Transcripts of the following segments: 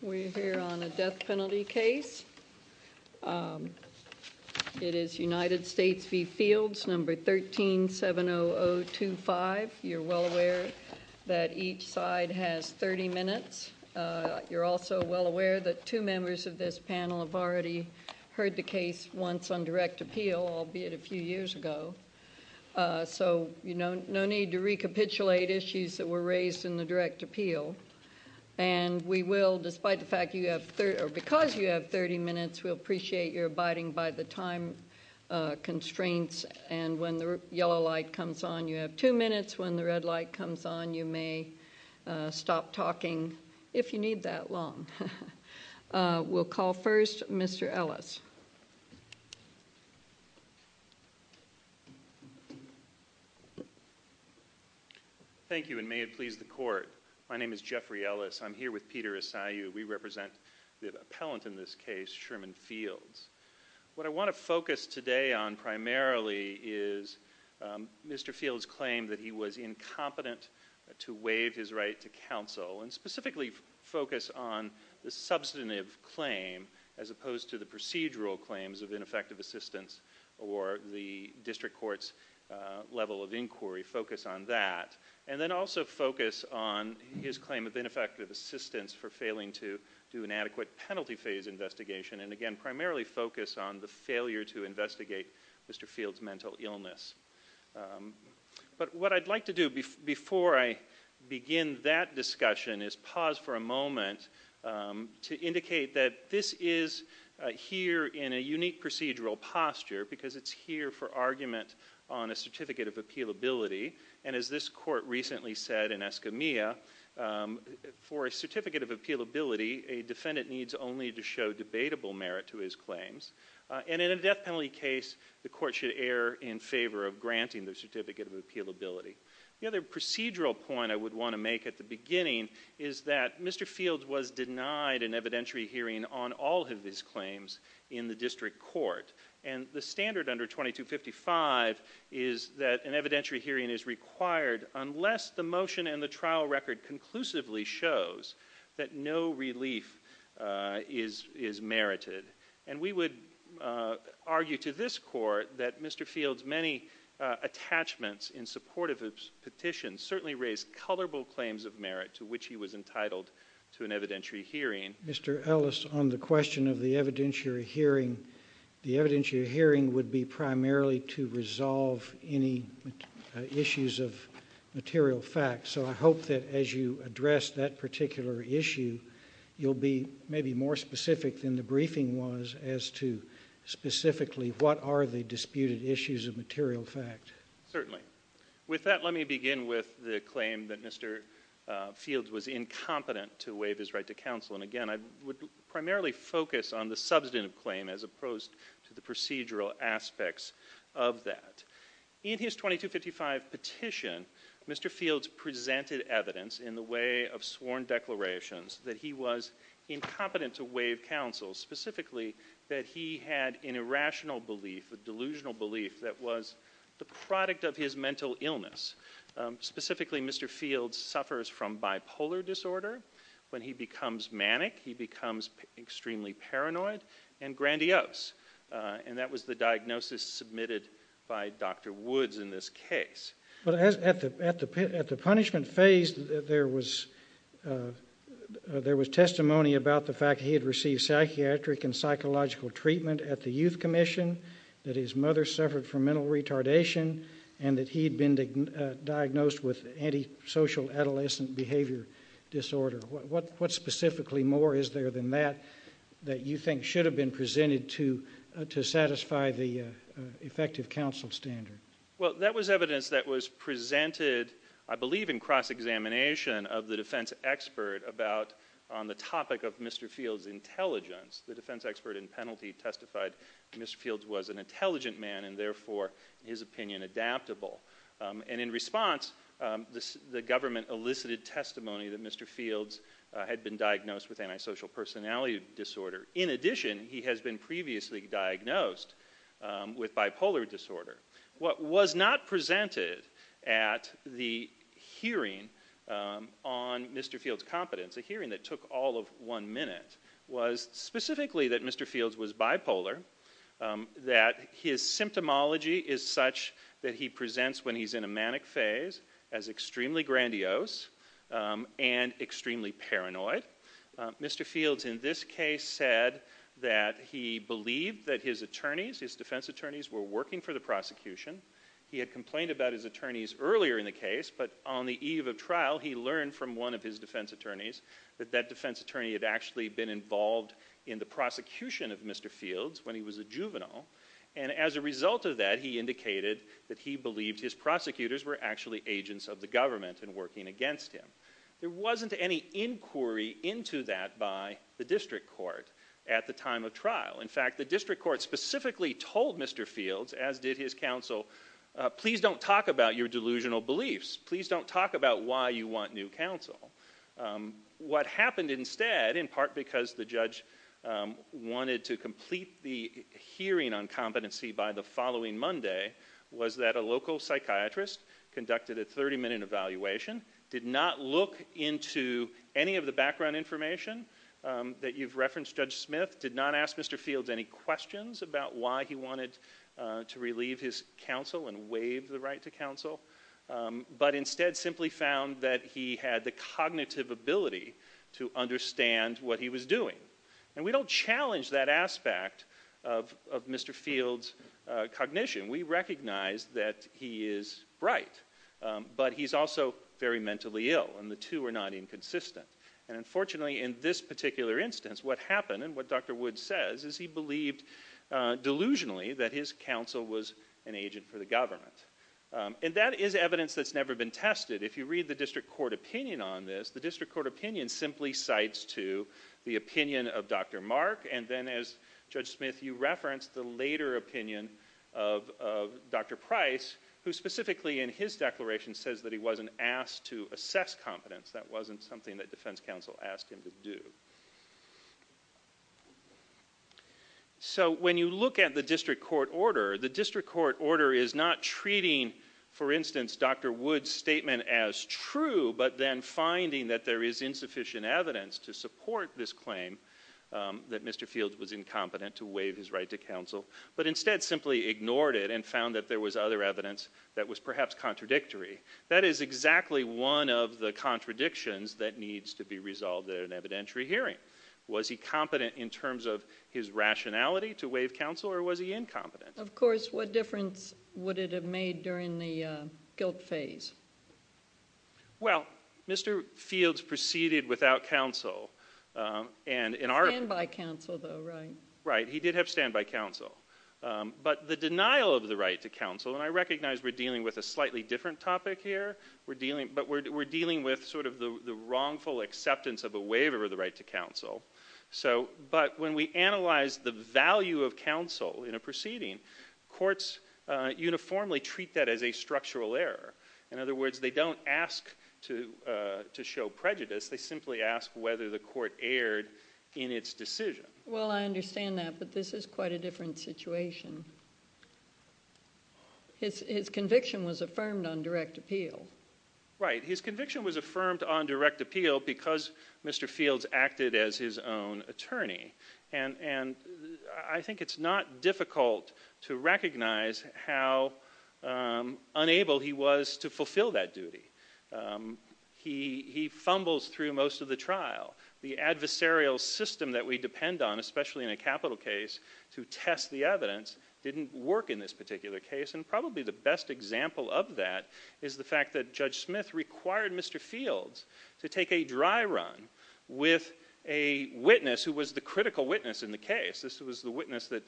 We're here on a death penalty case. It is United States v. Fields, number 1370025. You're well aware that each side has 30 minutes. You're also well aware that two members of this panel have already heard the case once on direct appeal, albeit a few years ago. So, you know, no need to recapitulate issues that were raised in the direct appeal. And we will, despite the fact you have 30, or because you have 30 minutes, we'll appreciate your abiding by the time constraints. And when the yellow light comes on, you have two minutes. When the red light comes on, you may stop talking, if you need that long. We'll call first Mr. Ellis. Thank you, and may it please the court. My name is Jeffrey Ellis. I'm here with Peter Esayu. We represent the appellant in this case, Sherman Fields. What I want to focus today on primarily is Mr. Fields' claim that he was incompetent to waive his right to counsel, and specifically focus on the substantive claim as opposed to the procedural claims of ineffective assistance or the district court's level of inquiry. Focus on that. And then also focus on his claim of ineffective assistance for failing to do an adequate penalty phase investigation. And again, primarily focus on the failure to investigate Mr. Fields' mental illness. But what I'd like to do before I begin that discussion is pause for a moment to indicate that this is here in a unique procedural posture, because it's here for argument on a certificate of appealability. And as this court recently said in Escamilla, for a certificate of appealability, a defendant needs only to show debatable merit to his failure in favor of granting the certificate of appealability. The other procedural point I would want to make at the beginning is that Mr. Fields was denied an evidentiary hearing on all of his claims in the district court. And the standard under 2255 is that an evidentiary hearing is required unless the motion and the trial record conclusively shows that no Mr. Fields' many attachments in support of his petition certainly raised colorful claims of merit to which he was entitled to an evidentiary hearing. Mr. Ellis, on the question of the evidentiary hearing, the evidentiary hearing would be primarily to resolve any issues of material facts. So I hope that as you address that particular issue, you'll be maybe more specific than the briefing was as to specifically what are the disputed issues of material fact. Certainly. With that, let me begin with the claim that Mr. Fields was incompetent to waive his right to counsel. And again, I would primarily focus on the substantive claim as opposed to the procedural aspects of that. In his 2255 petition, Mr. Fields presented evidence in the way of sworn declarations that he was incompetent to waive counsel, specifically that he had an irrational belief, a delusional belief that was the product of his mental illness. Specifically, Mr. Fields suffers from bipolar disorder. When he becomes manic, he becomes extremely paranoid and grandiose. And that was the diagnosis submitted by Dr. Woods in this case. But at the punishment phase, there was testimony about the fact that he had received psychiatric and psychological treatment at the Youth Commission, that his mother suffered from mental retardation, and that he had been diagnosed with antisocial adolescent behavior disorder. What specifically more is there than that that you think should have been presented to satisfy the effective counsel standard? Well, that was evidence that was presented, I believe in cross-examination of the defense expert about, on the topic of Mr. Fields' intelligence. The defense expert in penalty testified that Mr. Fields was an intelligent man and therefore, his opinion, adaptable. And in response, the government elicited testimony that Mr. Fields had been diagnosed with antisocial personality disorder. In addition, he has been previously diagnosed with bipolar disorder. What was not presented at the hearing on Mr. Fields' competence, a hearing that took all of one minute, was specifically that Mr. Fields was bipolar, that his symptomology is such that he presents when he's in a manic phase as extremely grandiose and extremely paranoid. Mr. Fields in this case said that he believed that his attorneys, his defense attorneys, were working for the prosecution. He had complained about his attorneys earlier in the case, but on the eve of trial, he learned from one of his defense attorneys that that defense attorney had actually been involved in the prosecution of Mr. Fields when he was a juvenile. And as a result of that, he indicated that he believed his prosecutors were actually agents of the government and working against him. There wasn't any inquiry into that by the district court at the time of trial. In fact, the district court specifically told Mr. Fields, as did his counsel, please don't talk about your delusional beliefs. Please don't talk about why you want new counsel. What happened instead, in part because the judge wanted to complete the hearing on competency by the following Monday, was that a local psychiatrist conducted a 30-minute evaluation, did not look into any of the background information that you've referenced, Judge Smith, did not ask Mr. Fields any questions about why he wanted to relieve his counsel and waive the right to counsel, but instead simply found that he had the cognitive ability to understand what he was doing. And we don't challenge that aspect of Mr. Fields' cognition. We recognize that he is bright, but he's also very mentally ill, and the two are not inconsistent. And unfortunately, in this particular instance, what happened, and what Dr. Woods says, is he believed delusionally that his counsel was an agent for the government. And that is evidence that's never been tested. If you read the district court opinion on this, the district court opinion simply cites to the opinion of Dr. Mark, and then as Judge Smith, you referenced the later opinion of Dr. Price, who specifically in his declaration says that he wasn't asked to assess competence. That wasn't something that defense counsel asked him to do. So when you look at the district court order, the district court order is not treating, for instance, Dr. Woods' statement as true, but then finding that there is insufficient evidence to support this claim, that Mr. Fields was incompetent to waive his right to counsel, but instead simply ignored it and found that there was other evidence that was perhaps contradictions that needs to be resolved at an evidentiary hearing. Was he competent in terms of his rationality to waive counsel, or was he incompetent? Of course, what difference would it have made during the guilt phase? Well, Mr. Fields proceeded without counsel, and in our- Standby counsel, though, right? Right, he did have standby counsel. But the denial of the right to counsel, and I recognize we're dealing with a slightly different topic here, but we're dealing with sort of the wrongful acceptance of a waiver of the right to counsel. But when we analyze the value of counsel in a proceeding, courts uniformly treat that as a structural error. In other words, they don't ask to show prejudice, they simply ask whether the court erred in its decision. Well, I understand that, but this is quite a different situation. His conviction was affirmed on direct appeal. Right, his conviction was affirmed on direct appeal because Mr. Fields acted as his own attorney. And I think it's not difficult to recognize how unable he was to fulfill that on, especially in a capital case, to test the evidence, didn't work in this particular case. And probably the best example of that is the fact that Judge Smith required Mr. Fields to take a dry run with a witness who was the critical witness in the case. This was the witness that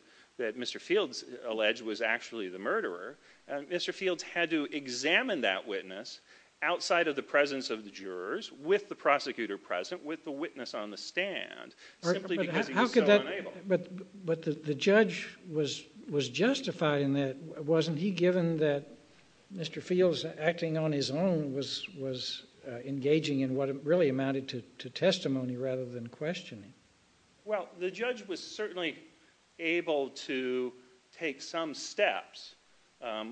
Mr. Fields alleged was actually the murderer. Mr. Fields had to examine that witness outside of the presence of the jurors, with the prosecutor present, with the witness on the stand, simply because he was so unable. But the judge was justified in that. Wasn't he, given that Mr. Fields, acting on his own, was engaging in what really amounted to testimony rather than questioning? Well, the judge was certainly able to take some steps.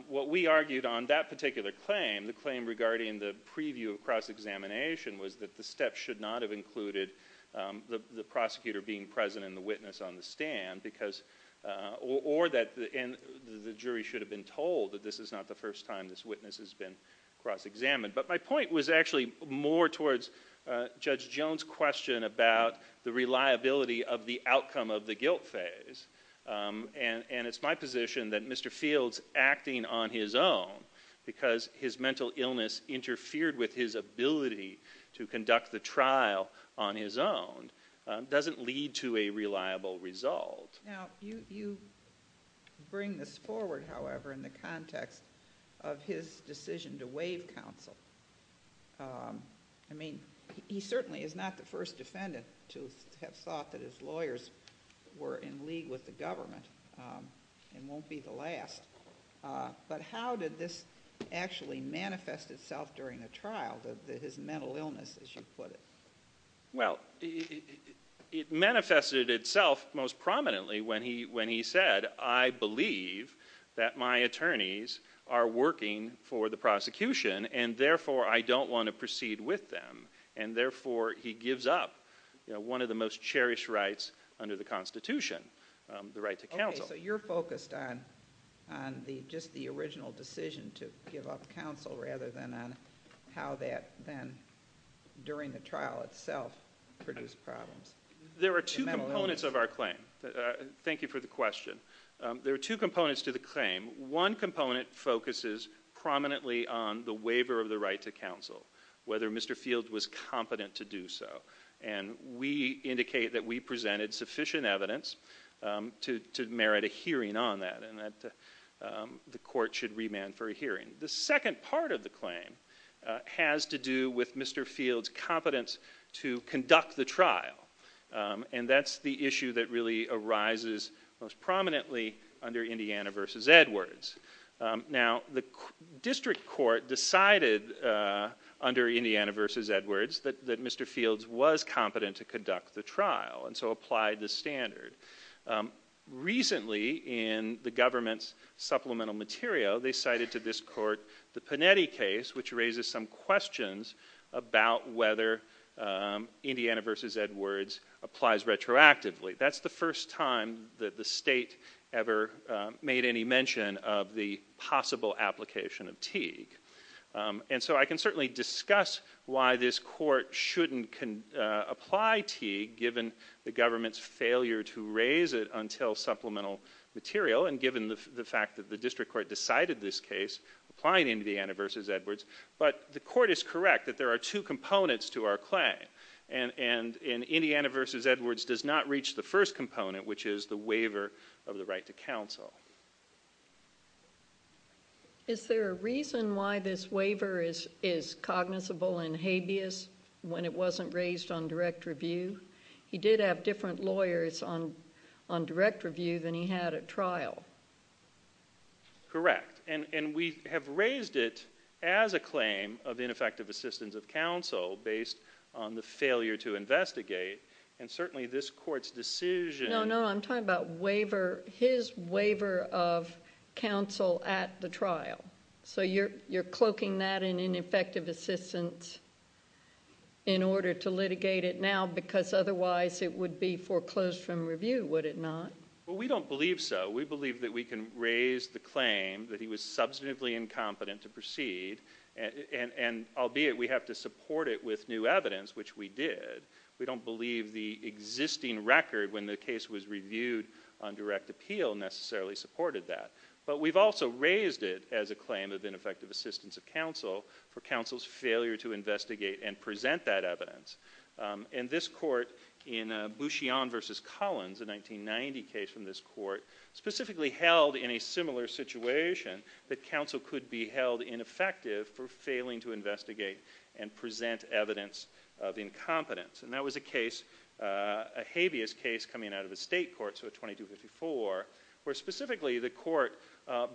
What we argued on that particular claim, the claim regarding the preview of cross-examination, was that the steps should not have included the prosecutor being present and the witness on the stand, or that the jury should have been told that this is not the first time this witness has been cross-examined. But my point was actually more towards Judge Jones' question about the reliability of the outcome of the guilt phase. And it's my position that Mr. Fields, acting on his own, because his mental illness interfered with his ability to conduct the trial on his own, doesn't lead to a reliable result. Now, you bring this forward, however, in the context of his decision to waive counsel. I mean, he certainly is not the first defendant to have thought that his lawyers were in league with the government, and won't be the last. But how did this actually manifest itself during the trial, his mental illness, as you put it? Well, it manifested itself most prominently when he said, I believe that my attorneys are working for the prosecution, and therefore I don't want to proceed with them. And therefore he gives up one of the most cherished rights under the Constitution, the right to counsel. So you're focused on just the original decision to give up counsel, rather than on how that then, during the trial itself, produced problems. There are two components of our claim. Thank you for the question. There are two components to the claim. One component focuses prominently on the waiver of the right to counsel, whether Mr. Field was competent to do so. And we indicate that we presented sufficient evidence to merit a hearing on that, and that the court should remand for a hearing. The second part of the claim has to do with Mr. Field's competence to conduct the trial. And that's the issue that really arises most prominently under Indiana v. Edwards. Now, the district court decided under Indiana v. Edwards that Mr. Fields was competent to conduct the trial, and so applied the standard. Recently, in the government's supplemental material, they cited to this court the Panetti case, which raises some questions about whether Indiana v. Edwards applies retroactively. That's the first time that the state ever made any mention of the possible application of Teague. And so I can certainly discuss why this court shouldn't apply Teague, given the government's failure to raise it until supplemental material, and given the fact that the district court decided this case, applying Indiana v. Edwards. But the court is correct that there are two components to our claim. And Indiana v. Edwards does not reach the first component, which is the waiver of the right to counsel. Is there a reason why this waiver is cognizable and habeas when it wasn't raised on direct review? He did have different lawyers on direct review than he had at trial. Correct. And we have raised it as a claim of ineffective assistance of counsel, based on the failure to investigate. And certainly this court's decision... No, no, I'm talking about waiver, his waiver of counsel at the trial. So you're cloaking that in ineffective assistance in order to litigate it now, because otherwise it would be foreclosed from review, would it not? We don't believe so. We believe that we can raise the claim that he was substantively incompetent to proceed, and albeit we have to support it with new evidence, which we did. We don't believe the existing record when the case was reviewed on direct appeal necessarily supported that. But we've also raised it as a claim of ineffective assistance of counsel for counsel's failure to investigate and present that evidence. And this court in Bouchion v. Collins, a 1990 case from this court, specifically held in a similar situation that counsel could be held ineffective for failing to investigate and present evidence of incompetence. And that was a case, a habeas case coming out of a state court, so a 2254, where specifically the court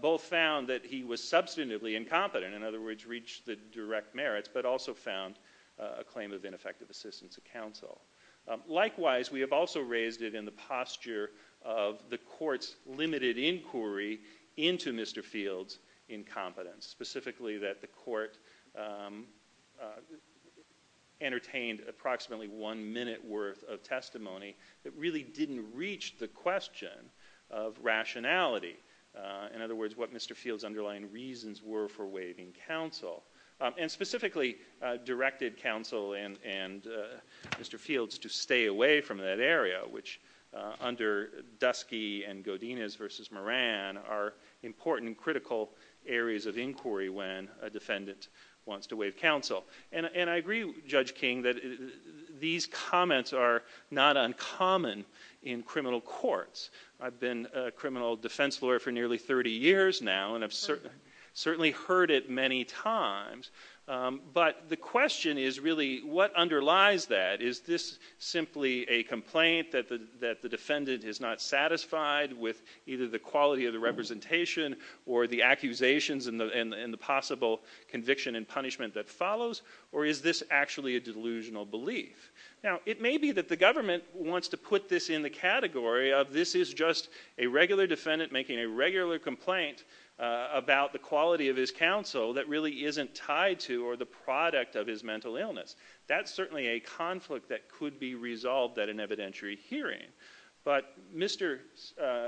both found that he was substantively incompetent, in other words reached the direct merits, but also found a claim of ineffective assistance of counsel. Likewise, we have also raised it in the posture of the court's limited inquiry into Mr. Field's incompetence, specifically that the court entertained approximately one minute worth of testimony that really didn't reach the question of rationality. In other words, what Mr. Field's underlying reasons were for waiving counsel, and specifically directed counsel and Mr. Field's to stay away from that area, which under Dusky and Godinez v. Moran are important critical areas of inquiry when a defendant wants to waive counsel. And I agree, Judge King, that these comments are not uncommon in criminal courts. I've been a criminal defense lawyer for nearly 30 years now, and I've certainly heard it many times. But the question is really, what underlies that? Is this simply a complaint that the defendant is not satisfied with either the quality of the representation or the accusations and the possible conviction and punishment that follows, or is this actually a delusional belief? Now, it may be that the government wants to put this in the category of, this is just a regular defendant making a regular complaint about the quality of his counsel that really isn't tied to or the product of his mental illness. That's certainly a conflict that could be resolved at an evidentiary hearing. But Mr.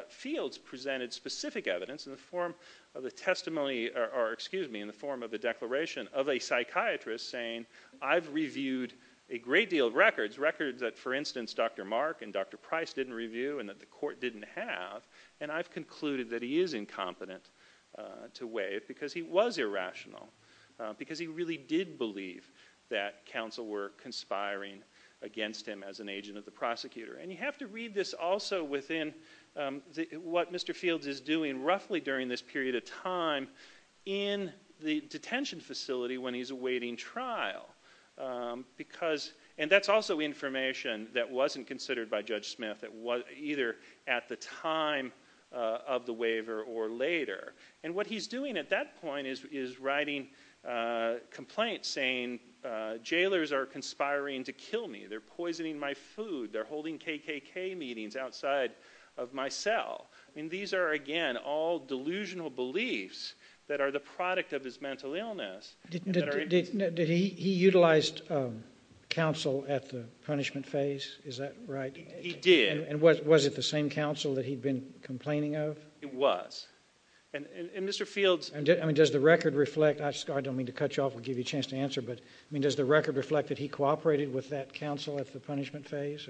Field's presented specific evidence in the form of a testimony, or excuse me, in the form of a declaration of a psychiatrist saying, I've reviewed a great deal of records, records that, for instance, Dr. Mark and Dr. Price didn't review and that the court didn't have, and I've concluded that he is incompetent to waive because he was irrational, because he really did believe that counsel were conspiring against him as an agent of the prosecutor. And you have to read this also within what Mr. Field is doing roughly during this period of time in the detention facility when he's awaiting trial. Because, and that's also information that wasn't considered by Judge Smith, either at the time of the waiver or later. And what he's doing at that point is writing complaints saying, jailers are conspiring to kill me. They're poisoning my food. They're holding KKK meetings outside of my cell. And these are, again, all delusional beliefs that are the product of his mental illness. Did he utilize counsel at the punishment phase? Is that right? He did. And was it the same counsel that he'd been complaining of? It was. And Mr. Field's- I mean, does the record reflect, I don't mean to cut you off and give you a chance to answer, but I mean, does the record reflect that he cooperated with that counsel at the punishment phase?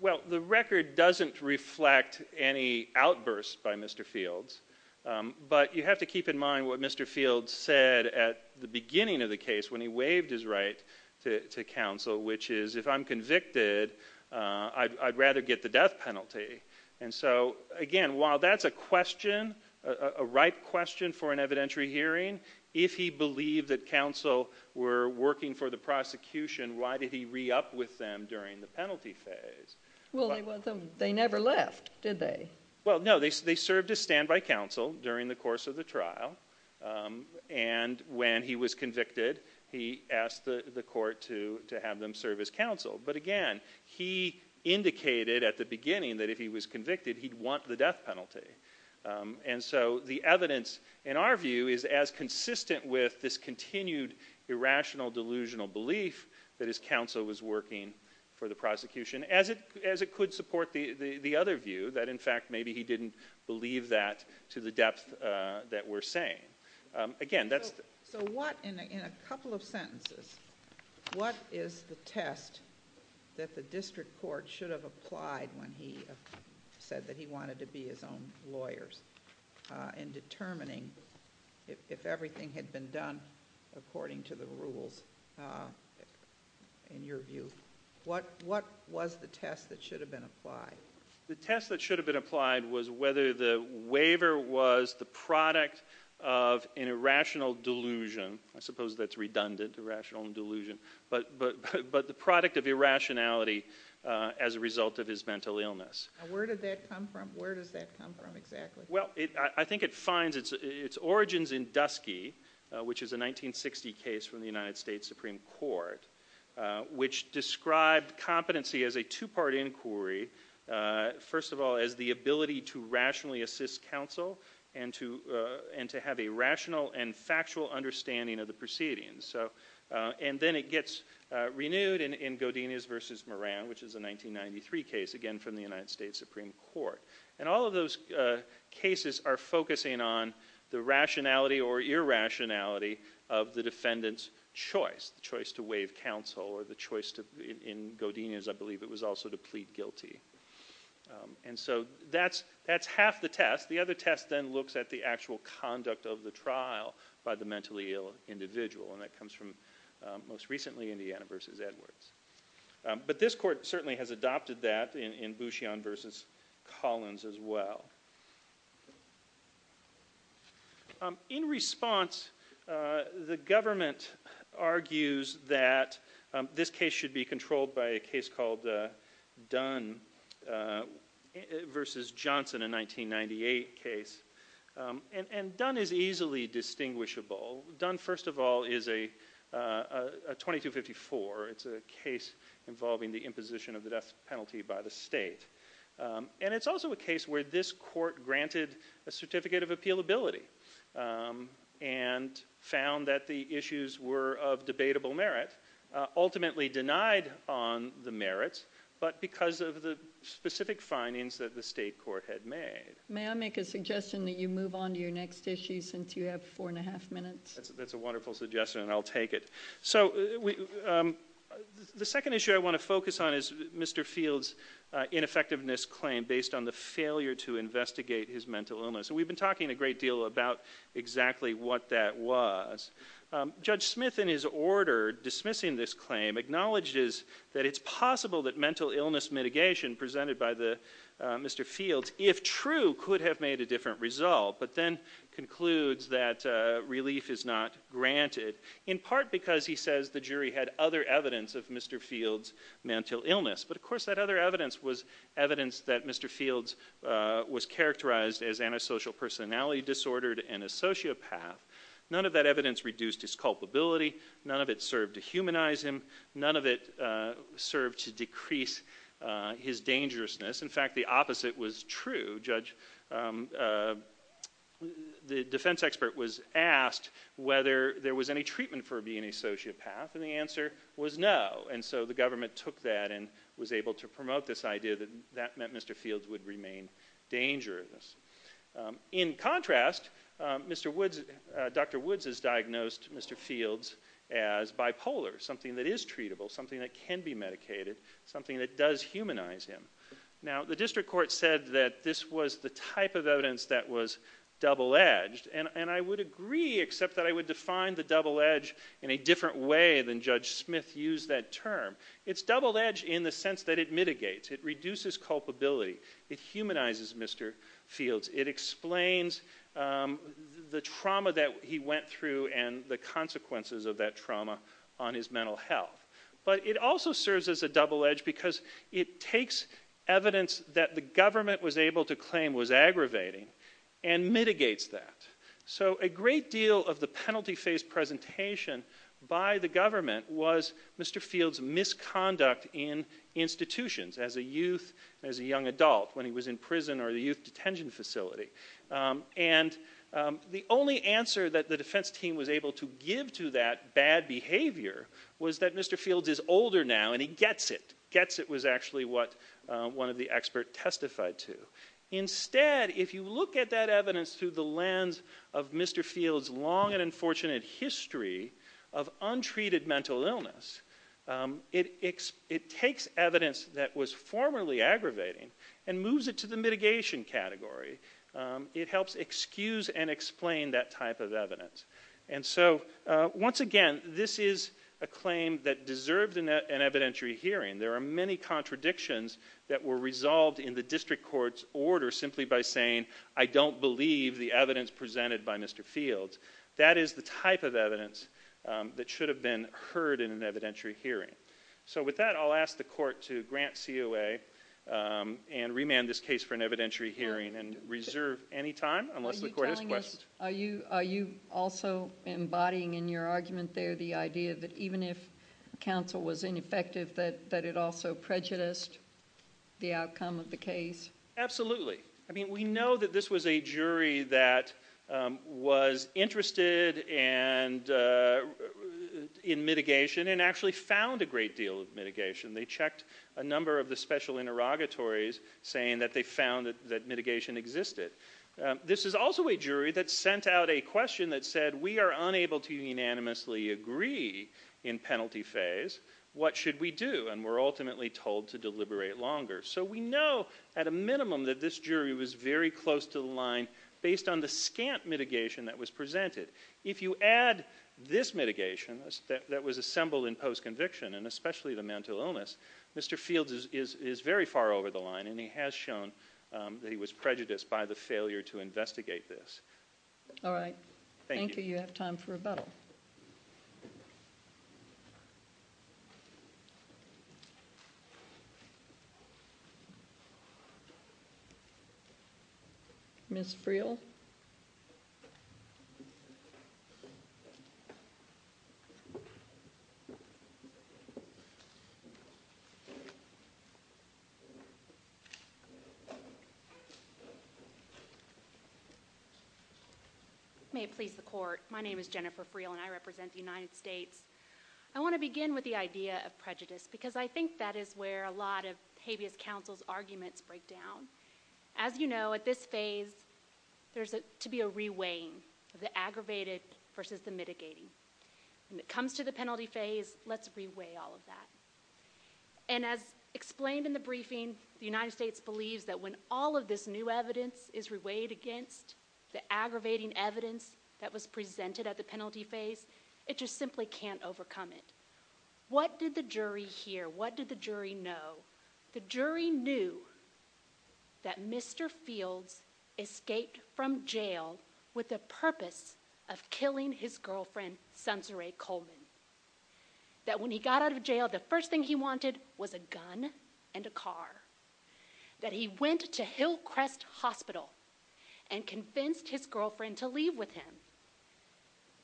Well, the record doesn't reflect any outbursts by Mr. Field's. But you have to keep in mind what Mr. Field said at the beginning of the case when he waived his right to counsel, which is, if I'm convicted, I'd rather get the death penalty. And so, again, while that's a question, a right question for an evidentiary hearing, if he believed that counsel were working for the prosecution, why did he re-up with them during the penalty phase? Well, they never left, did they? Well, no. They served as standby counsel during the course of the trial. And when he was convicted, he asked the court to have them serve as counsel. But again, he indicated at the beginning that if he was convicted, he'd want the death penalty. And so the evidence, in our view, is as consistent with this continued irrational, delusional belief that his counsel was working for the prosecution as it could support the other view that, in fact, maybe he didn't believe that to the depth that we're saying. So what, in a couple of sentences, what is the test that the district court should have applied when he said that he wanted to be his own lawyers in determining if everything had been done according to the rules, in your view? What was the test that should have been applied? The test that should have been applied was whether the waiver was the product of an irrational delusion. I suppose that's redundant, irrational delusion. But the product of irrationality as a result of his mental illness. Now, where did that come from? Where does that come from, exactly? Well, I think it finds its origins in Dusky, which is a 1960 case from the United States Supreme Court, which described competency as a two-part inquiry. First of all, as the ability to rationally assist counsel and to have a rational and factual understanding of the proceedings. And then it gets renewed in Godinez v. Moran, which is a 1993 case, again from the United States Supreme Court. And all of those cases are focusing on the choice to waive counsel, or the choice in Godinez, I believe, it was also to plead guilty. And so that's half the test. The other test then looks at the actual conduct of the trial by the mentally ill individual. And that comes from, most recently, Indiana v. Edwards. But this court certainly has adopted that in Bouchion v. Collins as well. In response, the government argues that this case should be controlled by a case called Dunn v. Johnson, a 1998 case. And Dunn is easily distinguishable. Dunn, first of all, is a 2254. It's a case involving the imposition of the death penalty by the state. And it's also a case where this court granted a certificate of appealability and found that the issues were of debatable merit, ultimately denied on the merit, but because of the specific findings that the state court had made. May I make a suggestion that you move on to your next issue since you have four and a half minutes? That's a wonderful suggestion, and I'll take it. So the second issue I want to focus on is Mr. Field's ineffectiveness claim based on the failure to investigate his mental illness. And we've been talking a great deal about exactly what that was. Judge Smith, in his order, dismissing this claim, acknowledges that it's possible that mental illness mitigation presented by Mr. Field, if true, could have made a different result, but then concludes that relief is not granted, in part because, he says, the jury had other evidence of Mr. Field's mental illness. But, of course, that other evidence was evidence that Mr. Field was characterized as antisocial, personality disordered, and a sociopath. None of that evidence reduced his culpability. None of it served to humanize him. None of it served to decrease his dangerousness. In fact, the opposite was true. The defense expert was asked whether there was any treatment for being a sociopath, and the answer was no. And so the government took that and was able to promote this idea that that meant Mr. Field would remain dangerous. In contrast, Dr. Woods has diagnosed Mr. Field as bipolar, something that is treatable, something that can be medicated, something that does humanize him. Now, the district court said that this was the type of evidence that was double-edged, and I would agree, except that I would define the double-edge in a different way than Judge Smith used that term. It's double-edged in the sense that it mitigates. It reduces culpability. It humanizes Mr. Field. It explains the trauma that he went through and the consequences of that trauma on his mental health. But it also serves as a double-edge because it takes evidence that the government was able to claim was aggravating and mitigates that. So a great deal of the penalty-face presentation by the government was Mr. Field's misconduct in institutions as a youth, as a young adult, when he was in prison or the youth detention facility. And the only answer that the defense team was able to give to that bad behavior was that Mr. Field is older now and he gets it. Gets it was actually what one of the experts testified to. Instead, if you look at that evidence through the lens of Mr. Field's long and unfortunate history of untreated mental illness, it takes evidence that was formerly aggravating and moves it to the mitigation category. It helps excuse and explain that type of evidence. And so, once again, this is a claim that deserved an evidentiary hearing. There are many contradictions that were resolved in the district court's order simply by saying, I don't believe the evidence presented by Mr. Field. That is the type of evidence that should have been heard in an evidentiary hearing. So with that, I'll ask the court to grant COA and remand this case for an evidentiary hearing and reserve any time unless the court has questions. Are you also embodying in your argument there the idea that even if counsel was ineffective that it also prejudiced the outcome of the case? Absolutely. I mean, we know that this was a jury that was interested in mitigation and actually found a great deal of mitigation. They checked a number of the special interrogatories saying that they found that mitigation existed. This is also a jury that sent out a question that said, we are unable to unanimously agree in penalty phase. What should we do? And we're ultimately told to deliberate longer. So we know at a minimum that this jury was very close to the line based on the scant mitigation that was presented. If you add this mitigation that was assembled in post-conviction and especially the mental illness, Mr. Field is very far over the line and he has shown that he was prejudiced by the failure to investigate this. All right. Thank you. You have time for rebuttal. Ms. Freel. May it please the court. My name is Jennifer Freel and I represent the United States. I want to begin with the idea of prejudice because I think that is where a lot of habeas counsel's arguments break down. As you know, at this phase, there's to be a reweighing of the aggravated versus the mitigating. When it comes to the penalty phase, let's reweigh all of that. And as explained in the briefing, the United States believes that when all of this new aggravating evidence that was presented at the penalty phase, it just simply can't overcome it. What did the jury hear? What did the jury know? The jury knew that Mr. Fields escaped from jail with the purpose of killing his girlfriend, sensory Coleman, that when he got out of jail, the first thing he wanted was a gun and a car that he went to Hillcrest Hospital and convinced his girlfriend to leave with him.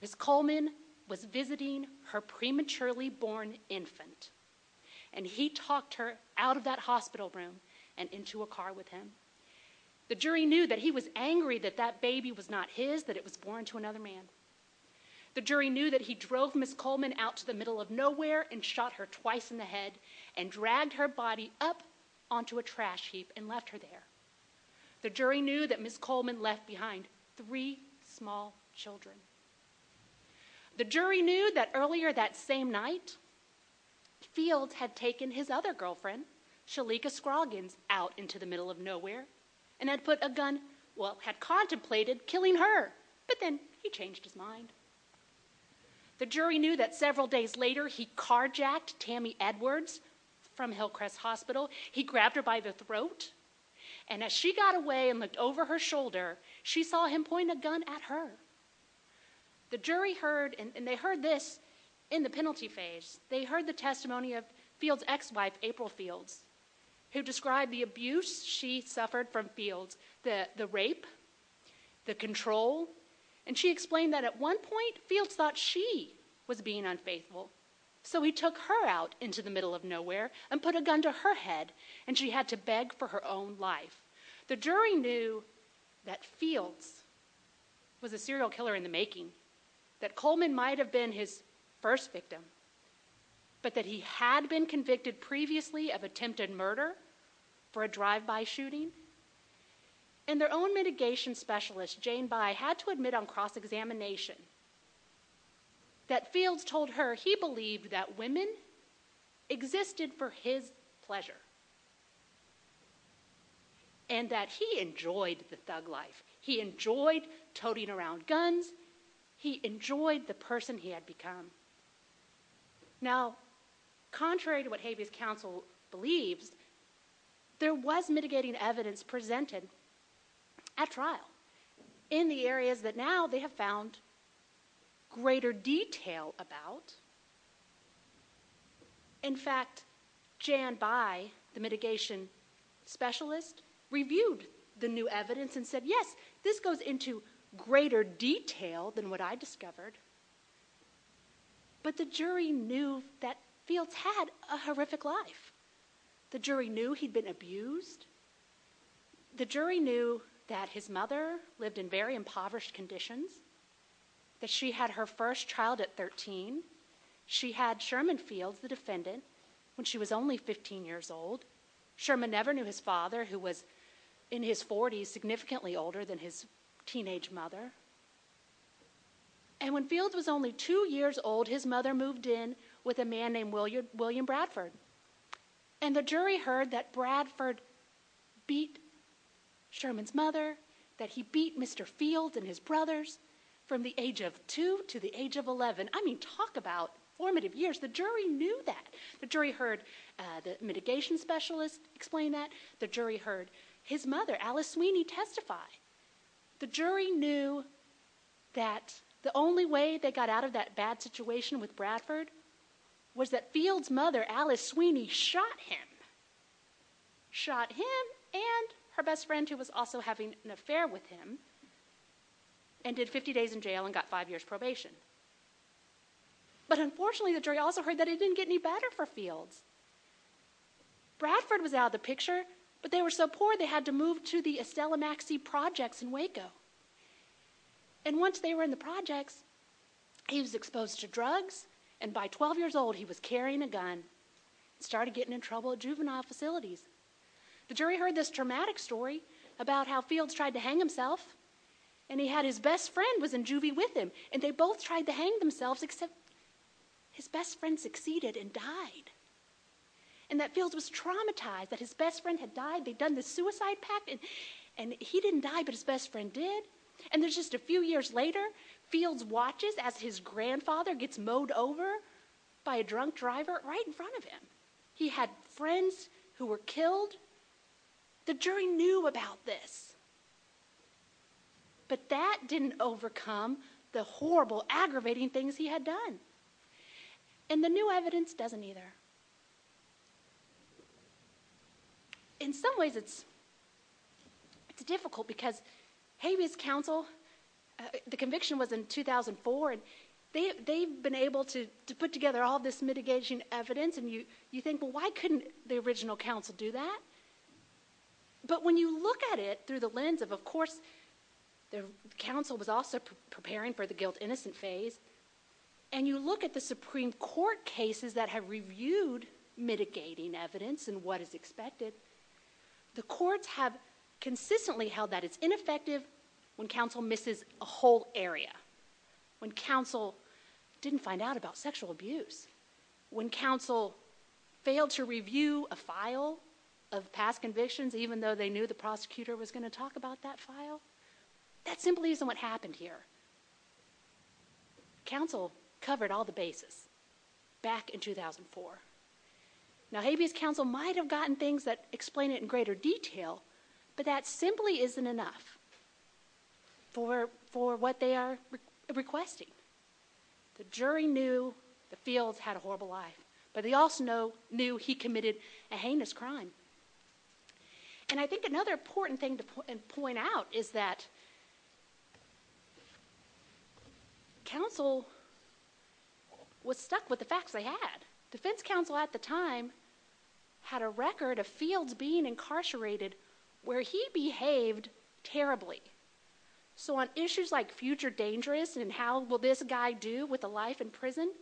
Ms. Coleman was visiting her prematurely born infant and he talked her out of that hospital room and into a car with him. The jury knew that he was angry that that baby was not his, that it was born to another man. The jury knew that he drove Ms. Coleman out to the middle of nowhere and shot her twice in the head and dragged her body up onto a trash heap and left her there. The jury knew that Ms. Coleman left behind three small children. The jury knew that earlier that same night, Fields had taken his other girlfriend, Shalika Scroggins, out into the middle of nowhere and had put a gun, well, had contemplated killing her, but then he changed his mind. The jury knew that several days later, he carjacked Tammy Edwards from Hillcrest Hospital. He grabbed her by the throat and as she got away and looked over her shoulder, she saw him point a gun at her. The jury heard, and they heard this in the penalty phase, they heard the testimony of Fields' ex-wife, April Fields, who described the abuse she suffered from Fields, the rape, the control, and she explained that at one point, Fields thought she was being unfaithful, so he took her out into the middle of nowhere and put a gun to her head and she had to beg for her own life. The jury knew that Fields was a serial killer in the making, that Coleman might have been his first victim, but that he had been convicted previously of attempted murder for a drive-by shooting, and their own mitigation specialist, Jane By, had to admit on cross-examination that Fields told her he believed that women existed for his pleasure and that he enjoyed the thug life. He enjoyed toting around guns. He enjoyed the person he had become. Now, contrary to what Habeas Council believes, there was mitigating evidence presented at trial in the areas that now they have found greater detail about. In fact, Jane By, the mitigation specialist, reviewed the new evidence and said, yes, this goes into greater detail than what I discovered, but the jury knew that Fields had a horrific life. The jury knew he'd been abused. The jury knew that his mother lived in very impoverished conditions, that she had her first child at 13. She had Sherman Fields, the defendant, when she was only 15 years old. Sherman never knew his mother. He was significantly older than his teenage mother. When Fields was only two years old, his mother moved in with a man named William Bradford. The jury heard that Bradford beat Sherman's mother, that he beat Mr. Fields and his brothers from the age of two to the age of 11. I mean, talk about formative years. The jury knew that. The jury heard the mitigation specialist explain that. The jury heard his mother, Alice Sweeney, testify. The jury knew that the only way they got out of that bad situation with Bradford was that Fields' mother, Alice Sweeney, shot him, shot him and her best friend, who was also having an affair with him, ended 50 days in jail and got five years' probation. But unfortunately, the jury also heard that it didn't get any better for Fields. Bradford was out of the picture, but they were so poor they had to move to the Estella Maxey Projects in Waco. And once they were in the projects, he was exposed to drugs, and by 12 years old, he was carrying a gun and started getting in trouble at juvenile facilities. The jury heard this traumatic story about how Fields tried to hang himself, and he had his best friend who was in juvie with him, and they both tried to hang themselves, except his best friend succeeded and died. And that Fields was traumatized that his best friend had died. They'd done this suicide pact, and he didn't die, but his best friend did. And there's just a few years later, Fields watches as his grandfather gets mowed over by a drunk driver right in front of him. He had friends who were killed. The jury knew about this, but that didn't overcome the horrible, aggravating things he had done. And the new evidence doesn't either. In some ways, it's difficult because Habeas Council, the conviction was in 2004, and they've been able to put together all this mitigation evidence, and you think, well, why couldn't the original council do that? But when you look at it through the lens of, of course, the council was also preparing for the guilt-innocent phase, and you look at the Supreme Court cases that have reviewed mitigating evidence and what is expected, the courts have consistently held that it's ineffective when council misses a whole area, when council didn't find out about sexual abuse, when council failed to review a file of past convictions, even though they knew the prosecutor was going to talk about that file. That simply isn't what happened here. Council covered all the bases back in 2004. Now, Habeas Council might have gotten things that explain it in greater detail, but that simply isn't enough for, for what they are requesting. The jury knew that Fields had a horrible life, but they also knew he committed a heinous crime. And I think another important thing to point out is that council was stuck with the facts they had. Defense Council at the time had a record of Fields being incarcerated where he behaved terribly. So on issues like future dangerous and how will this guy do with a life in prison,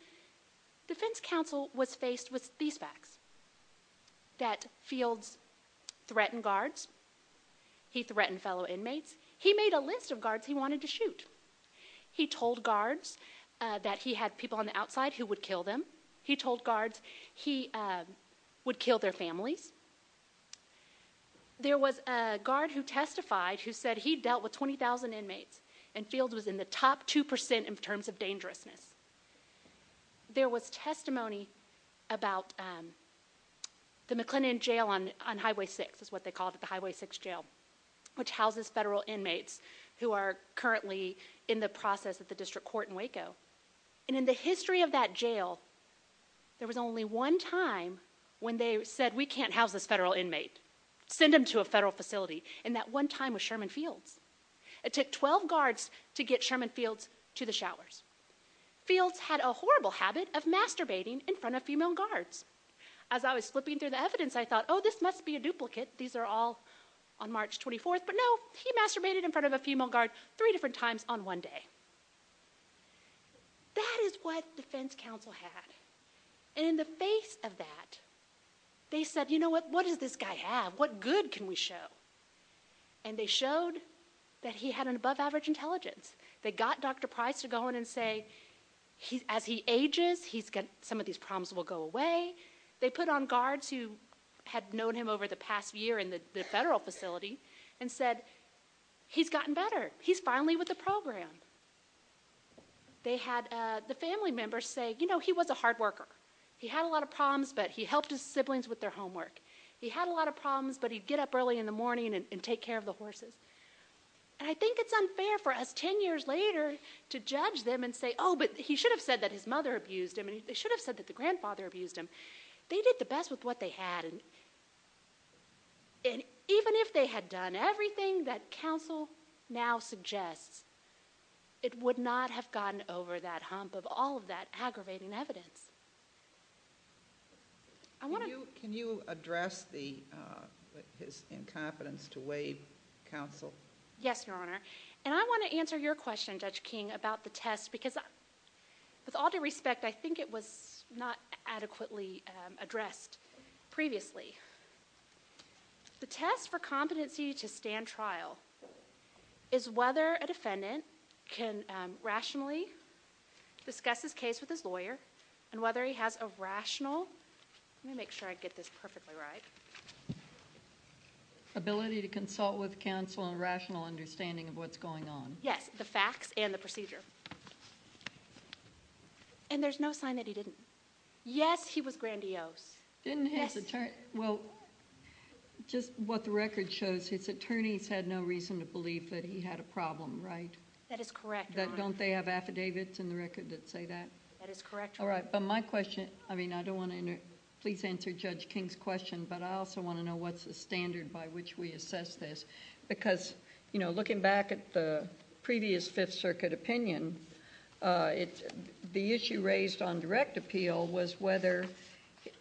Defense Council was faced with these facts, that Fields threatened guards, he threatened fellow inmates, he made a list of guards he wanted to shoot. He told guards that he had people on the outside who would kill them. He told guards he would kill their families. There was a guard who testified who said he dealt with 20,000 inmates and Fields was in the top 2% in terms of dangerousness. There was testimony about the McLennan Jail on Highway 6, is what they called it, the Highway 6 Jail, which houses federal inmates who are currently in the process of the district court in Waco. And in the history of that jail, there was only one time when they said, we can't house this federal inmate. Send him to a federal facility. And that one time was Sherman Fields. It took 12 guards to get Sherman Fields to the showers. Fields had a horrible habit of masturbating in front of female guards. As I was flipping through the evidence, I thought, oh, this must be a duplicate. These are all on March 24th. But no, he masturbated in front of a female guard three different times on one day. That is what Defense Council had. And in the face of that, they said, you know what, what does this guy have? What good can we show? And they showed that he had an above average intelligence. They got Dr. Price to go in and say, as he ages, some of these problems will go away. They put on guards who had known him over the past year in the federal facility and said, he's gotten better. He's finally with the program. They had the family members say, you know, he was a hard worker. He had a lot of problems, but he helped his siblings with their homework. He had a lot of problems, but he'd get up early in the morning and take care of the horses. And I think it's unfair for us 10 years later to judge them and say, oh, but he should have said that his mother abused him. They should have said that the grandfather abused him. They did the best with what they had. And even if they had done everything that counsel now suggests, it would not have gotten over that hump of all of that aggravating evidence. Can you address his incompetence to waive counsel? Yes, Your Honor. And I want to answer your question, Judge King, about the test because with all due respect, I think it was not adequately addressed previously. The test for competency to stand trial is whether a defendant can rationally discuss his case with his lawyer and whether he has a rational... let me make sure I get this perfectly right. Ability to consult with counsel and rational understanding of what's going on. Yes, the facts and the procedure. And there's no sign that he didn't. Yes, he was grandiose. Didn't his attorney... well, just what the record shows, his attorneys had no reason to believe that he had a problem, right? That is correct, Your Honor. Don't they have affidavits in the record that say that? That is correct, Your Honor. All right, but my question... I mean, I don't want to... please answer Judge King's question, but I also want to know what's the standard by which we assess this because looking back at the previous Fifth Circuit opinion, the issue raised on direct appeal was whether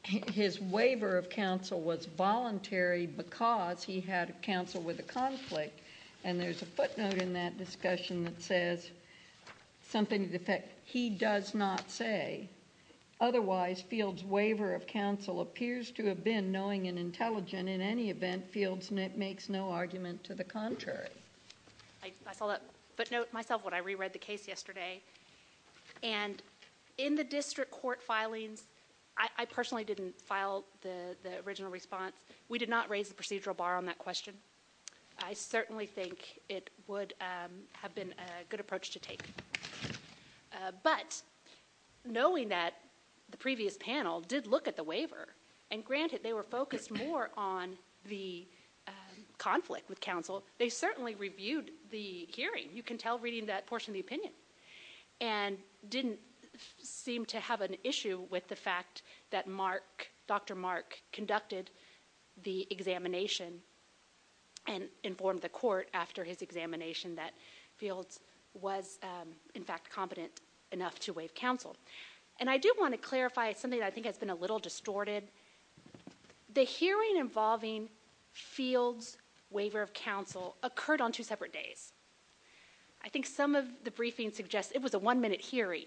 his waiver of counsel was voluntary because he had counsel with a conflict. And there's a footnote in that discussion that says something to the effect, he does not say. Otherwise, Fields' waiver of counsel appears to have been knowing and intelligent. In any event, Fields makes no argument to the contrary. I saw that footnote myself when I re-read the case yesterday. And in the district court filings, I personally didn't file the original response. We did not raise the procedural bar on that question. I certainly think it would have been a good approach to take. But knowing that the previous panel did look at the waiver, and granted they were focused more on the conflict with counsel, they certainly reviewed the hearing. You can tell reading that portion of the opinion. And didn't seem to have an issue with the fact that Mark, Dr. Mark, conducted the examination and informed the court after his examination that Fields was in fact competent enough to waive counsel. And I do want to clarify something that I think has been a little distorted. The hearing involving Fields' waiver of counsel occurred on two separate days. I think some of the briefings suggest it was a one-minute hearing.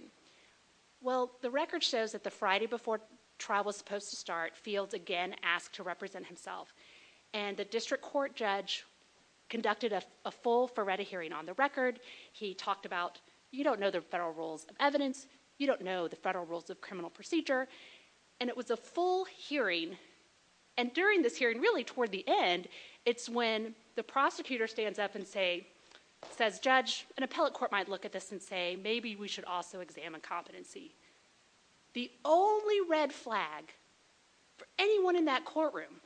Well, the record shows that the Friday before trial was supposed to start, Fields again asked to represent himself. And the district court judge conducted a full Ferretta hearing on the record. He talked about, you don't know the federal rules of evidence. You don't know the federal rules of criminal procedure. And it was a full hearing. And during this hearing, really toward the end, it's when the prosecutor stands up and says, Judge, an appellate court might look at this and say, maybe we should also examine competency. The only red flag for anyone in that courtroom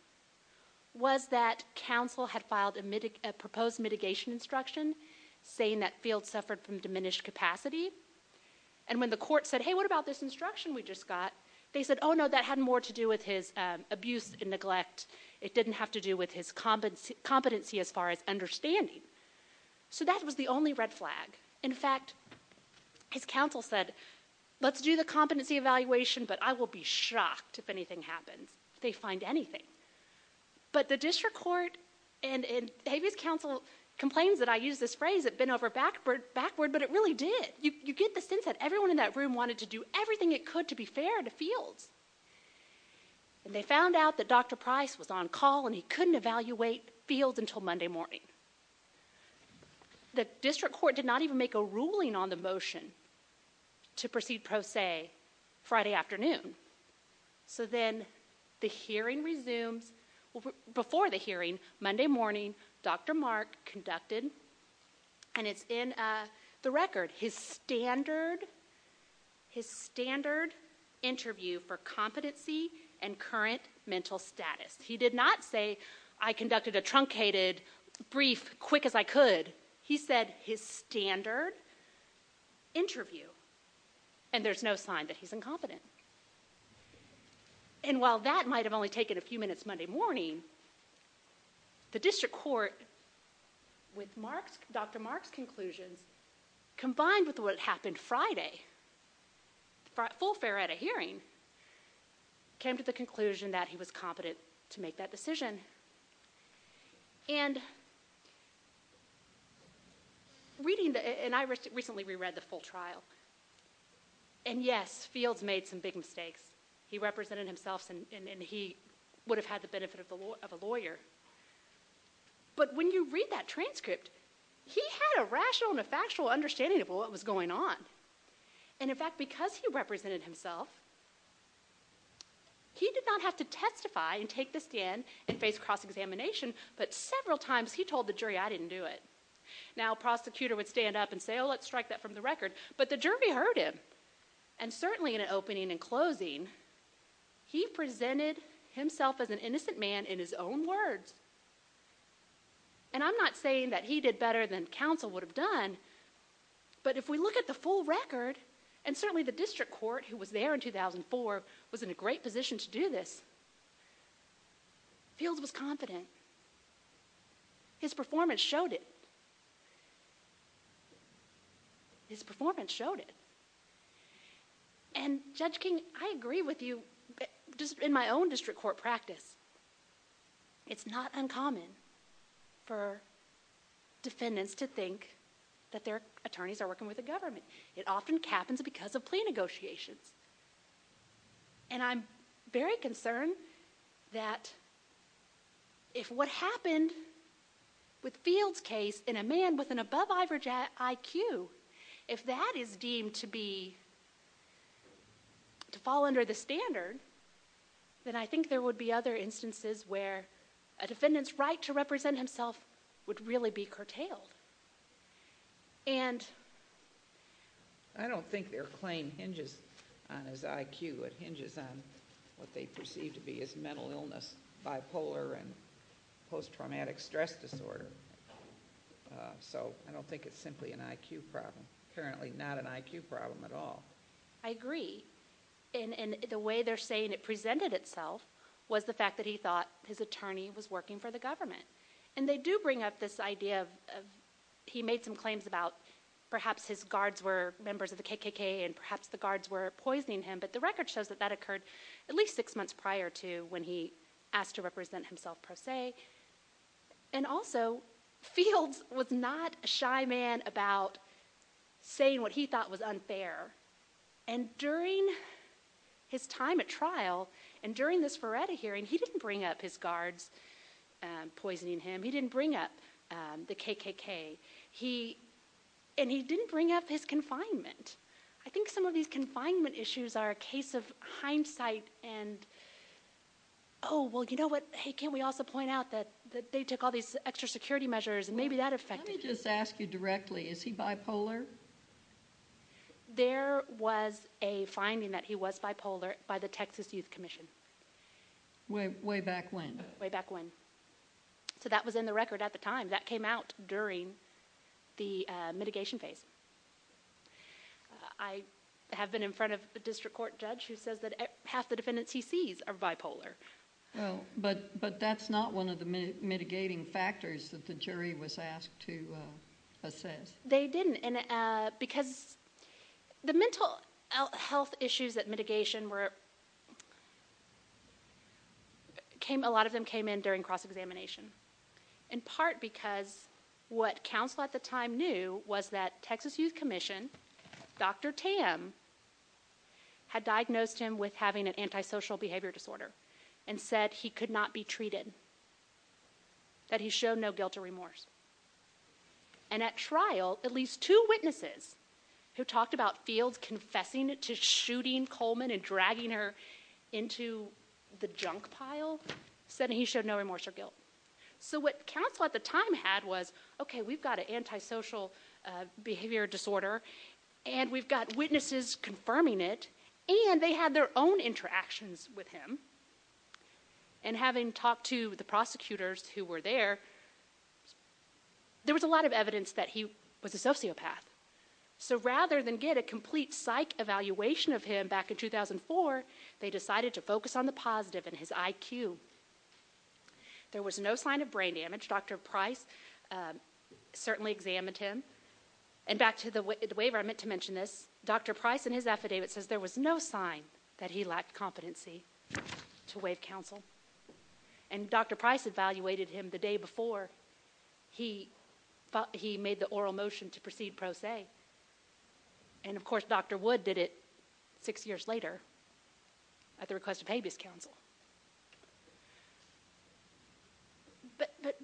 was that counsel had filed a proposed mitigation instruction saying that Fields suffered from abuse. They said, oh, no, that had more to do with his abuse and neglect. It didn't have to do with his competency as far as understanding. So that was the only red flag. In fact, his counsel said, let's do the competency evaluation, but I will be shocked if anything happens. They find anything. But the district court and Habeas counsel complains that I use this phrase, it bent over backward, but it really did. You get the sense that everyone in that courtroom was talking about Fields. And they found out that Dr. Price was on call and he couldn't evaluate Fields until Monday morning. The district court did not even make a ruling on the motion to proceed pro se Friday afternoon. So then the hearing resumes. Well, before the hearing, Monday morning, Dr. Mark conducted, and it's in the record, his standard interview for competency and current mental status. He did not say, I conducted a truncated brief quick as I could. He said his standard interview, and there's no sign that he's incompetent. And while that might have only taken a few minutes Monday morning, the district court with Dr. Mark's conclusions combined with what happened Friday, full fare at a hearing, came to the conclusion that he was competent to make that decision. And reading the, and I recently reread the full trial. And yes, Fields made some big mistakes. He represented himself and he would have had the benefit of a lawyer. But when you read that transcript, he had a rational and a factual understanding of what was going on. And in fact, because he represented himself, he did not have to testify and take the stand and face cross examination. But several times he told the jury, I didn't do it. Now, prosecutor would stand up and say, oh, let's strike that from the record. But the jury heard him. And certainly in an opening and closing, he presented himself as an innocent man in his own words. And I'm not saying that he did better than counsel would have done. But if we look at the full record, and certainly the district court who was there in 2004 was in a great position to do this. Fields was confident. His performance showed it. His performance showed it. And Judge King, I agree with you just in my own district court practice. It's not uncommon for defendants to think that their attorneys are working with the government. It often happens because of plea negotiations. And I'm very concerned that if what happened with Fields case in a man with an above average IQ, if that is deemed to be, to fall under the standard, then I think there would be other instances where a defendant's right to represent himself would really be curtailed. And I don't think their claim hinges on his IQ. It hinges on what they perceive to be his mental illness, bipolar, and post-traumatic stress disorder. So I don't think it's simply an IQ problem. Apparently not an IQ problem at all. I agree. And the way they're saying it presented itself was the fact that he thought his attorney was working for the government. And they do bring up this idea of, he made some claims about perhaps his guards were members of the KKK and perhaps the guards were poisoning him, but the record shows that that occurred at least six months prior to when he asked to represent himself per se. And also, Fields was not a shy man about saying what he thought was unfair. And during his time at trial, and during this Verretta hearing, he didn't bring up his guards poisoning him. He didn't bring up the KKK. And he didn't bring up his confinement. I think some of these confinement issues are a case of hindsight and, oh, well, you know what? Hey, can't we also point out that they took all these extra security measures and maybe that affected him? Let me just ask you directly, is he bipolar? There was a finding that he was bipolar by the Texas Youth Commission. Way back when? Way back when. So that was in the record at the time. That came out during the mitigation phase. I have been in front of a district court judge who says that half the defendants he sees are bipolar. But that's not one of the mitigating factors that the jury was asked to assess. They didn't. Because the mental health issues at mitigation were, a lot of them came in during cross-examination. In part because what counsel at the time knew was that Texas Youth Commission had a case that was brought forward and said he could not be treated. That he showed no guilt or remorse. And at trial, at least two witnesses who talked about Fields confessing to shooting Coleman and dragging her into the junk pile said that he showed no remorse or guilt. So what counsel at the time had was, okay we've got an antisocial behavior disorder and we've got witnesses confirming it and they had their own interactions with him. And having talked to the prosecutors who were there, there was a lot of evidence that he was a sociopath. So rather than get a complete psych evaluation of him back in 2004, they decided to focus on the positive and his IQ. There was no sign of brain damage. Dr. Price certainly examined him. And back to the waiver, I meant to mention this. Dr. Price in his affidavit says there was no sign that he lacked competency to waive counsel. And Dr. Price evaluated him the day before he made the oral motion to proceed pro se. And of course Dr. Wood did it six years later at the request of Habeas Council. But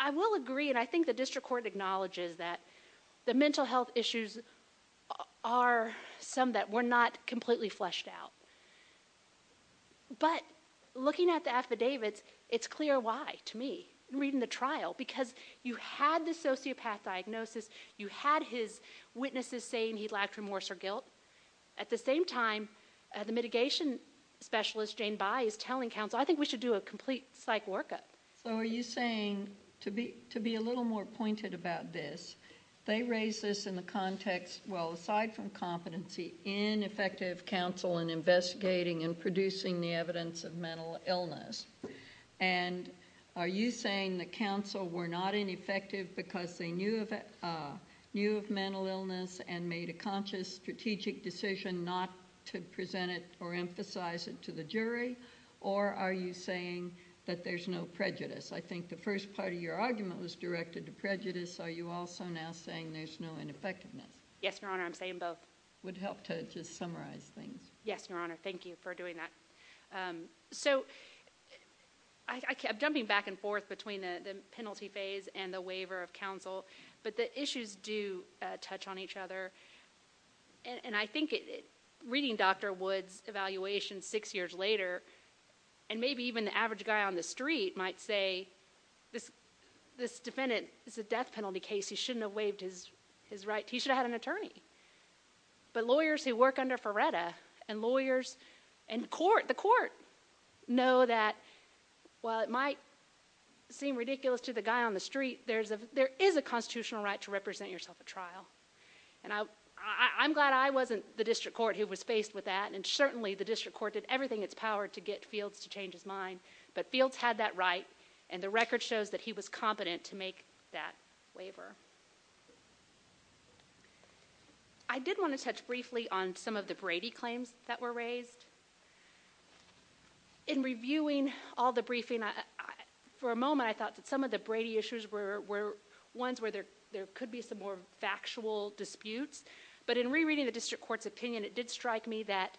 I will agree and I think the district court acknowledges that the mental health issues are some that were not completely fleshed out. But looking at the affidavits, it's clear why to me, reading the trial. Because you had the sociopath diagnosis, you had his witnesses saying he lacked remorse or guilt. At the same time, the mitigation specialist, Jane By, is telling counsel, I think we should do a complete psych workup. So are you saying, to be a little more pointed about this, they raised this in the context, well aside from competency, ineffective counsel in investigating and producing the evidence of mental illness. And are you saying that counsel were not ineffective because they knew of mental illness and made a conscious, strategic decision not to present it or emphasize it to the jury? Or are you saying that there's no prejudice? I think the first part of your argument was directed to prejudice. Are you also now saying there's no ineffectiveness? Yes, Your Honor, I'm saying both. Would help to just summarize things. Yes, Your Honor, thank you for doing that. So I kept jumping back and forth between the penalty phase and the waiver of counsel, but the issues do touch on each other. And I think reading Dr. Wood's evaluation six years later, and maybe even the average guy on the street might say, this defendant is a death penalty case, he shouldn't have waived his right, he should have had an attorney. But lawyers who work under Ferretta and lawyers in court, the court, know that while it might seem ridiculous to the guy on the street, there is a constitutional right to represent yourself at trial. And I'm glad I wasn't the district court who was faced with that, and certainly the district court did everything in its power to get Fields to change his mind. But Fields had that right, and the record shows that he was competent to make that waiver. I did want to touch briefly on some of the Brady claims that were raised. In reviewing all the briefing, for a moment I thought that some of the Brady issues were ones where there could be some more factual disputes, but in rereading the district court's opinion, it did strike me that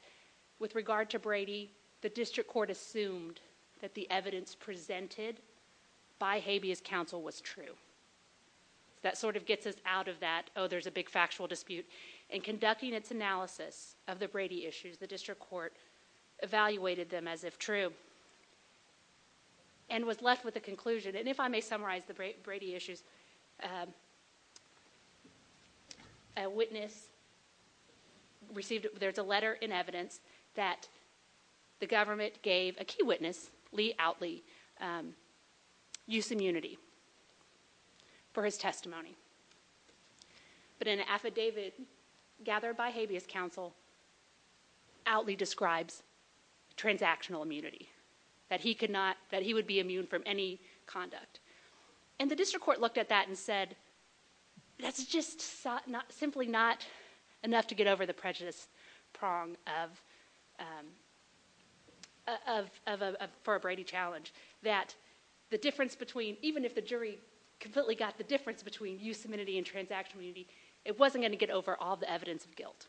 with regard to Brady, the district court assumed that the evidence presented by Habeas Counsel was true. That sort of gets us out of that, oh, there's a big factual dispute. In conducting its analysis of the Brady issues, the district court evaluated them as if true, and was left with a conclusion. And if I may summarize the Brady issues, a witness received, there's a letter in evidence that the government gave a key witness, Lee Outley, use immunity for his testimony. But in an affidavit gathered by Habeas Counsel, Outley describes transactional immunity, that he would be immune from any conduct. And the district court looked at that and said, that's just simply not enough to get over the prejudice prong for a Brady challenge, that the difference between, even if the jury completely got the difference between use immunity and transactional immunity, it wasn't going to get over all the evidence of guilt.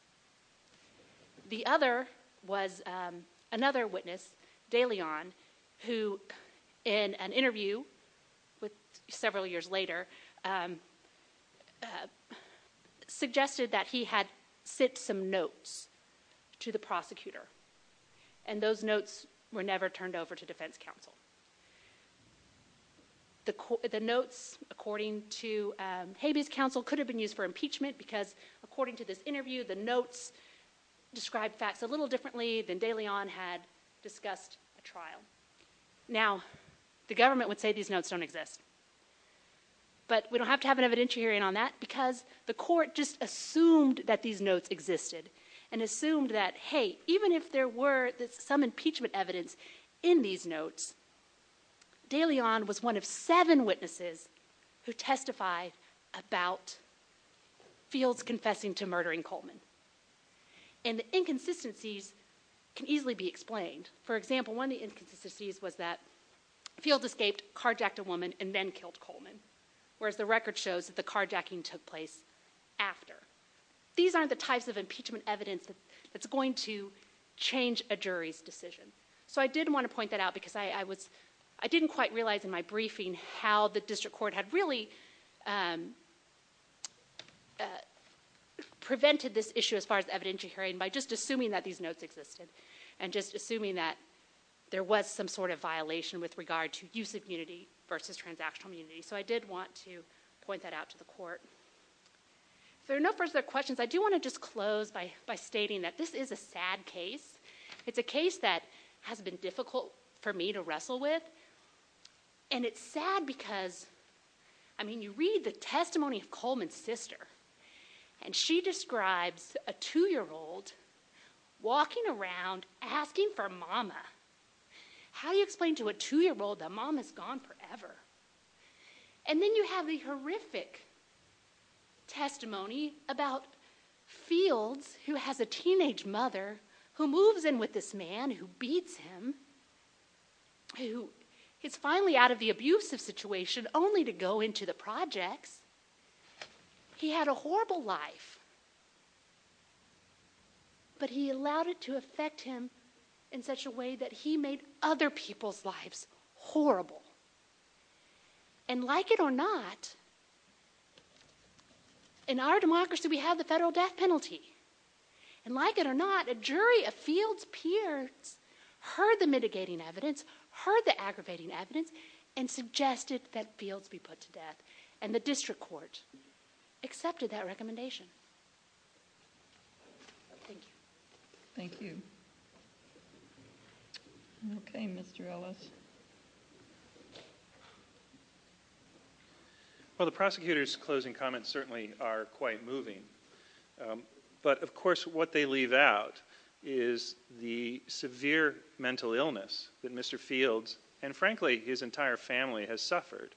The other was another witness, DeLeon, who in an interview several years later, suggested that he had sent some notes to the prosecutor. And those notes were never turned over to defense counsel. The notes, according to Habeas Counsel, could have been used for impeachment, because according to this interview, the notes described facts a little differently than DeLeon had discussed at trial. Now, the government would say these notes don't exist. But we don't have to have an evidentiary hearing on that, because the court just assumed that these notes existed, and assumed that, hey, even if there were some impeachment evidence in these notes, DeLeon was one of seven witnesses who testified about Fields confessing to murdering Coleman. And the inconsistencies can easily be explained. For example, one of the inconsistencies was that Fields escaped, carjacked a woman, and then killed Coleman, whereas the record shows that the carjacking took place after. These aren't the types of impeachment evidence that's going to change a jury's decision. So I did want to point that out, because I didn't quite realize in my briefing how the district court had really prevented this issue as far as evidentiary hearing by just assuming that these notes existed, and just assuming that there was some sort of violation with regard to use of immunity versus transactional immunity. So I did want to point that out to the court. If there are no further questions, I do want to just close by stating that this is a sad case. It's a case that has been difficult for me to wrestle with, and it's sad because, I mean, you read the testimony of Coleman's sister, and she describes a two-year-old walking around asking for Mama. How do you explain to a two-year-old that Mama's gone forever? And then you have the horrific testimony about Fields, who has a teenage mother, who moves in with this man who beats him, who is finally out of the abusive situation, only to go into the projects. He had a horrible life, but he allowed it to affect him in such a way that he made other people's lives horrible. And like it or not, in our democracy we have the federal death penalty. And like it or not, a jury of Fields' peers heard the mitigating evidence, heard the aggravating evidence, and suggested that Fields be put to death. And the district court accepted that recommendation. Thank you. Thank you. Okay, Mr. Ellis. Well, the prosecutor's closing comments certainly are quite moving. But of course what they leave out is the severe mental illness that Mr. Fields, and frankly his entire family, has suffered.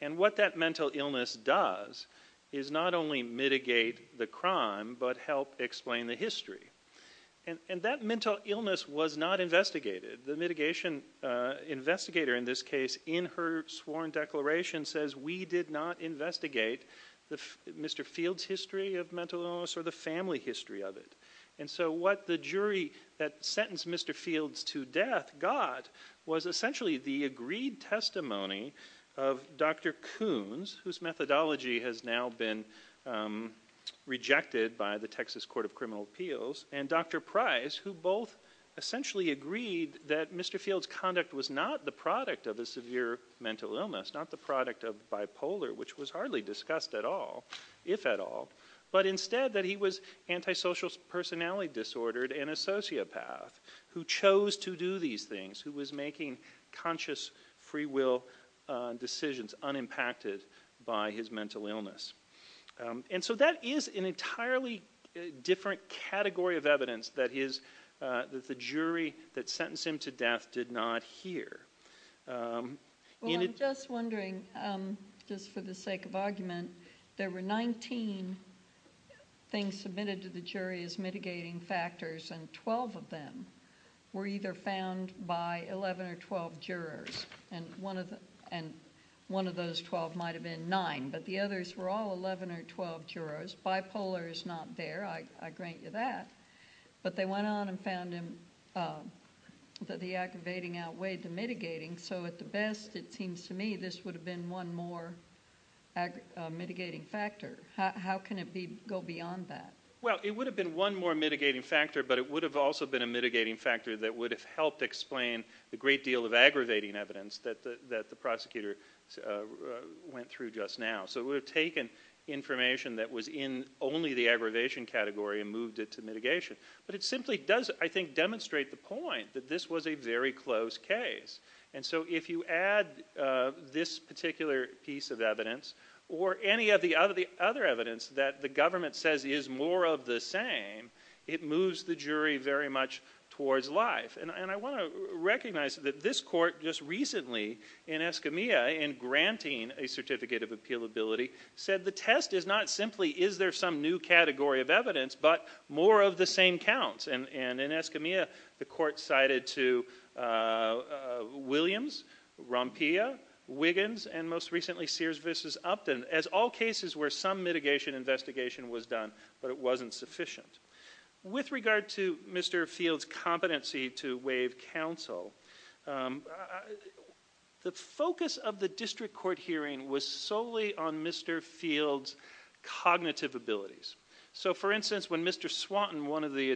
And what that mental illness does is not only mitigate the crime, but help explain the history. And that mental illness was not investigated. The mitigation investigator in this case, in her sworn declaration, says we did not investigate Mr. Fields' history of mental illness or the family history of it. And so what the jury that sentenced Mr. Fields to death got was essentially the agreed testimony of Dr. Coons, whose methodology has now been rejected by the Texas Court of Criminal Appeals, and Dr. Price, who both essentially agreed that Mr. Fields' conduct was not the product of a severe mental illness, not the product of bipolar, which was hardly discussed at all, if at all. But instead that he was antisocial personality disordered and a sociopath who chose to do these things, who was making conscious free will decisions unimpacted by his mental illness. And so that is an entirely different category of evidence that the jury that sentenced him to death did not hear. In it... Well, I'm just wondering, just for the sake of argument, there were 19 things submitted to the jury as mitigating factors, and 12 of them were either found by 11 or 12 jurors. And one of those 12 might have been 9, but the others were all 11 or 12 jurors. Bipolar is not there, I grant you that. But they went on and found that the aggravating outweighed the mitigating, so at the best, it seems to me, this would have been one more mitigating factor. How can it go beyond that? Well, it would have been one more mitigating factor, but it would have also been a mitigating factor that would have helped explain the great deal of aggravating evidence that the prosecutor went through just now. So it would have taken information that was in only the aggravation category and moved it to mitigation. But it simply does, I think, demonstrate the point that this was a very close case. And so if you add this particular piece of evidence, or any of the other evidence that the government says is more of the same, it moves the jury very much towards life. And I want to recognize that this court just recently, in Escamilla, in granting a certificate of appealability, said the test is not simply is there some new category of evidence, but more of the same counts. And in Escamilla, the court cited to Williams, Rompilla, Wiggins, and most recently Sears v. Upton as all cases where some mitigation investigation was done, but it wasn't sufficient. With regard to Mr. Field's competency to waive counsel, the focus of the district court hearing was solely on Mr. Field's cognitive abilities. So for instance, when Mr. Swanton, one of the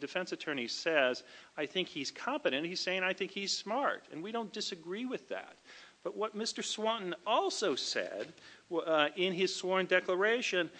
defense attorneys, says, I think he's competent, he's saying, I think he's smart. And we don't disagree with that. But what Mr. Swanton also said in his sworn declaration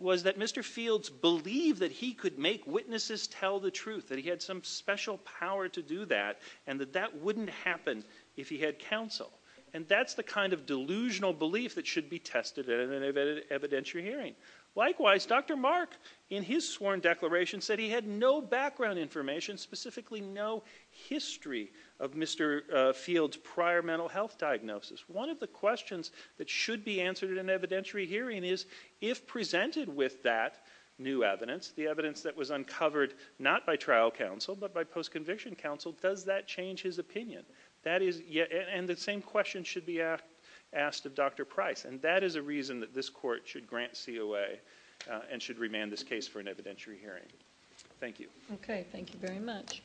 was that Mr. Field's believed that he could make witnesses tell the truth, that he had some special power to do that, and that that wouldn't happen if he had counsel. And that's the kind of delusional belief that should be tested in an evidentiary hearing. Likewise, Dr. Mark, in his sworn declaration, said he had no background information, specifically no history of Mr. Field's prior mental health diagnosis. One of the questions that should be answered in an evidentiary hearing is, if presented with that new evidence, the evidence that was uncovered not by trial counsel, but by post-conviction counsel, does that change his opinion? And the same question should be asked of Dr. Price. And that is a reason that this court should grant COA and should remand this case for an evidentiary hearing. Thank you. OK. Thank you very much.